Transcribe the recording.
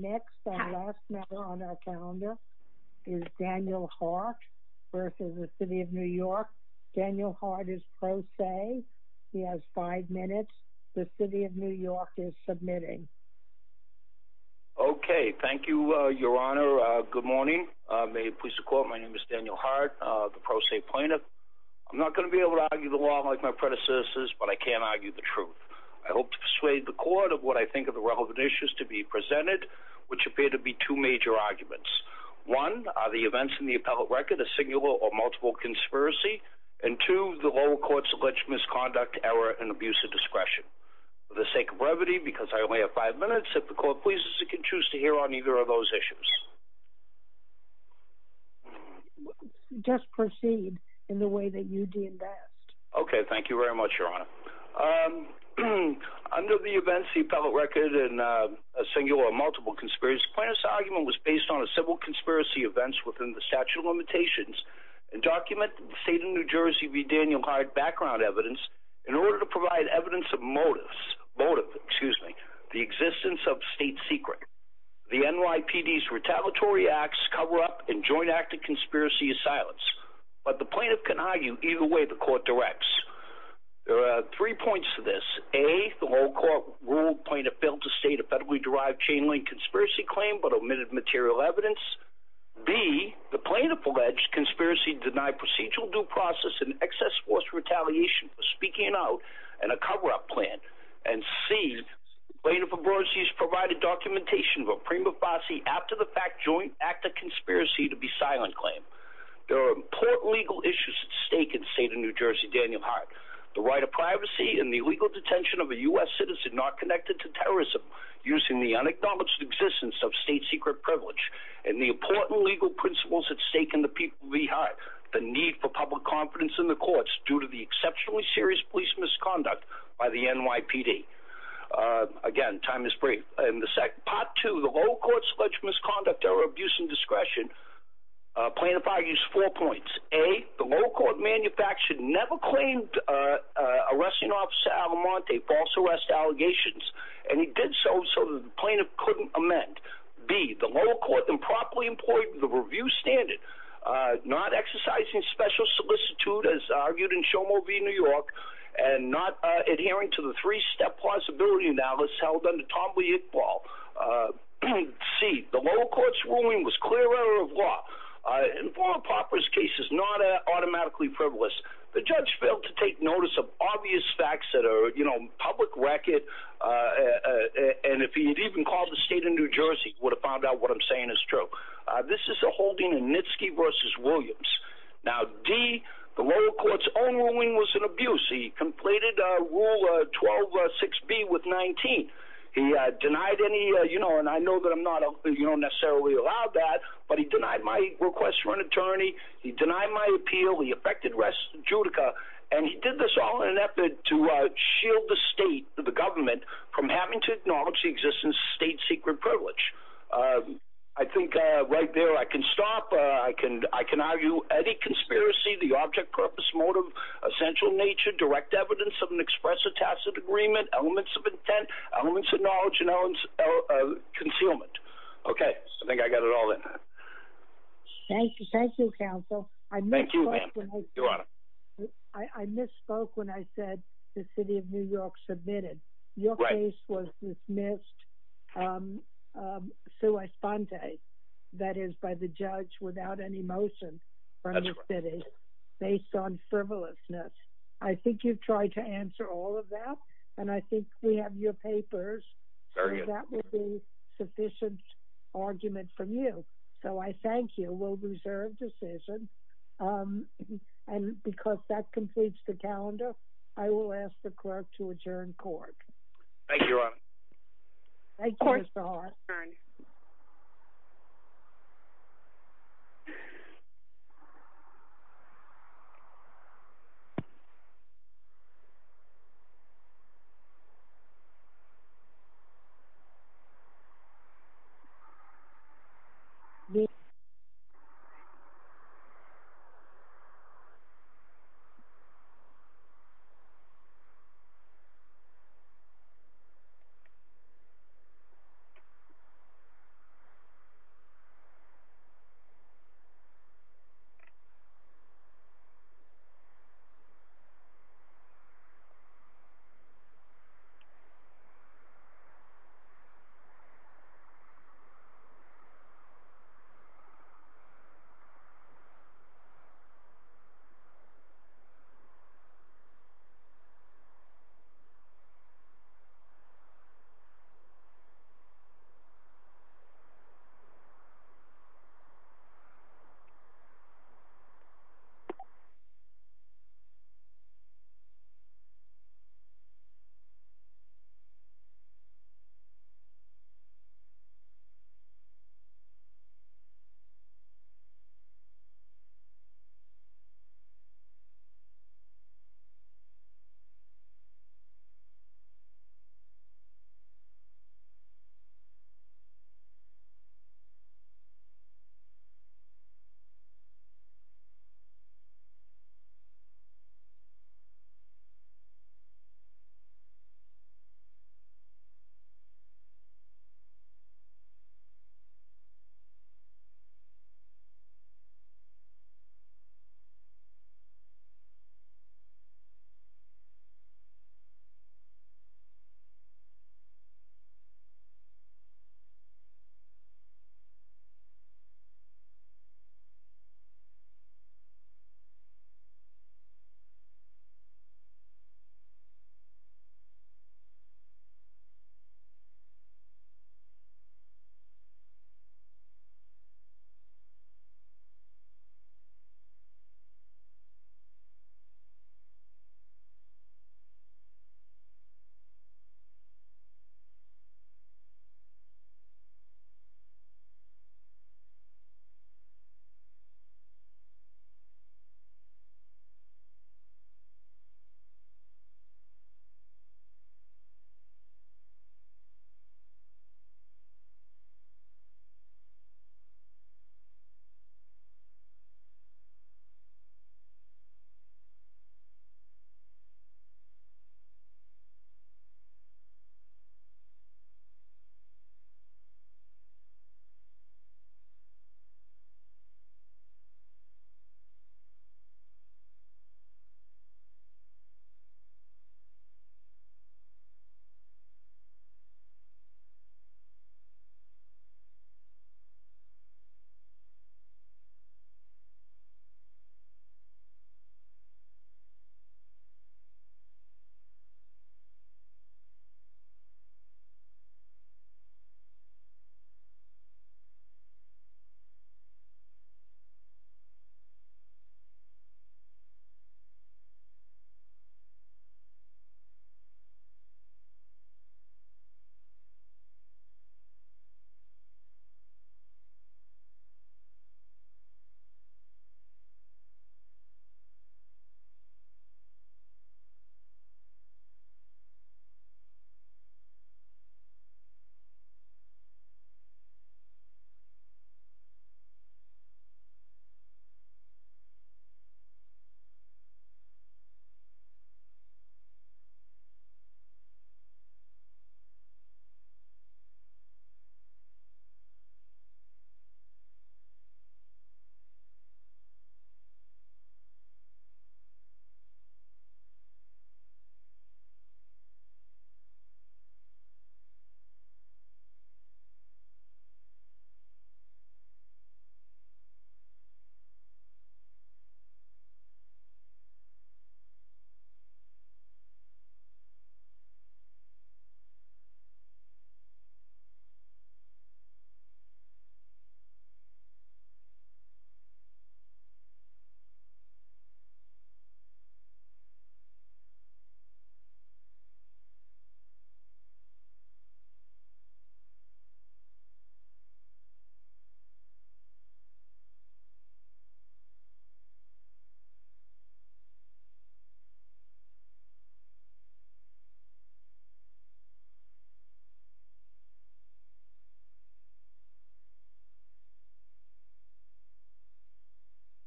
Next, our last member on our calendar is Daniel Hart versus the city of New York. Daniel Hart is pro se. He has five minutes. The city of New York is submitting. Okay, thank you, Your Honor. Good morning. May it please the court, my name is Daniel Hart, the pro se plaintiff. I'm not gonna be able to argue the law like my predecessors, but I can argue the truth. I hope to persuade the court of what I think of the relevant issues to be presented, which appear to be two major arguments. One, are the events in the appellate record a singular or multiple conspiracy? And two, the lower court's alleged misconduct, error, and abuse of discretion. For the sake of brevity, because I only have five minutes, if the court pleases, it can choose to hear on either of those issues. Just proceed in the way that you de-invest. Okay, thank you very much, Your Honor. Um, under the events, the appellate record, and a singular or multiple conspiracy, plaintiff's argument was based on a civil conspiracy events within the statute of limitations, and documented the state of New Jersey v. Daniel Hart background evidence in order to provide evidence of motive, excuse me, the existence of state secret. The NYPD's retaliatory acts cover up and joint act of conspiracy is silenced. But the plaintiff can argue either way the court directs. There are three points to this. A, the lower court ruled plaintiff failed to state a federally derived chain link conspiracy claim, but omitted material evidence. B, the plaintiff alleged conspiracy denied procedural due process and excess force retaliation for speaking out in a cover up plan. And C, plaintiff's abrogacy has provided documentation of a prima facie, after the fact, joint act of conspiracy to be silent claim. There are important legal issues at stake in the state of New Jersey, Daniel Hart. The right of privacy and the legal detention of a US citizen not connected to terrorism, using the unacknowledged existence of state secret privilege, and the important legal principles at stake in the people of E. Hart. The need for public confidence in the courts due to the exceptionally serious police misconduct by the NYPD. Again, time is brief. In the sec, part two, the low court's alleged misconduct or abuse and discretion, plaintiff argues four points. A, the low court manufactured never claimed arresting officer Alamante false arrest allegations. And he did so, so the plaintiff couldn't amend. B, the low court improperly employed the review standard, not exercising special solicitude, as argued in Show Movie New York, and not adhering to the three-step plausibility analysis held under Tom Lee Iqbal. C, the low court's ruling was clear error of law. In four improperous cases, not automatically privileged, the judge failed to take notice of obvious facts that are public record, and if he had even called the state of New Jersey, would have found out what I'm saying is true. This is a holding in Nitsky v. Williams. Now D, the low court's own ruling was an abuse. He completed Rule 12.6b with 19. He denied any, and I know that I'm not, you don't necessarily allow that, but he denied my request for an attorney. He denied my appeal. He affected rest of Judica, and he did this all in an effort to shield the state, the government, from having to acknowledge the existence of state secret privilege. I think right there I can stop. I can argue any conspiracy, the object, purpose, motive, essential nature, direct evidence of an express or tacit agreement, elements of intent, elements of knowledge, and elements of concealment. Okay, I think I got it all in. Thank you, thank you, counsel. Thank you, ma'am, your honor. I misspoke when I said the city of New York submitted. Your case was dismissed sui sponte, that is by the judge without any motion from the city, based on frivolousness. I think you've tried to answer all of that, and I think we have your papers. So that will be sufficient argument from you. So I thank you. We'll reserve decision. And because that completes the calendar, I will ask the clerk to adjourn court. Thank you, your honor. Thank you, Mr. Hart. Thank you.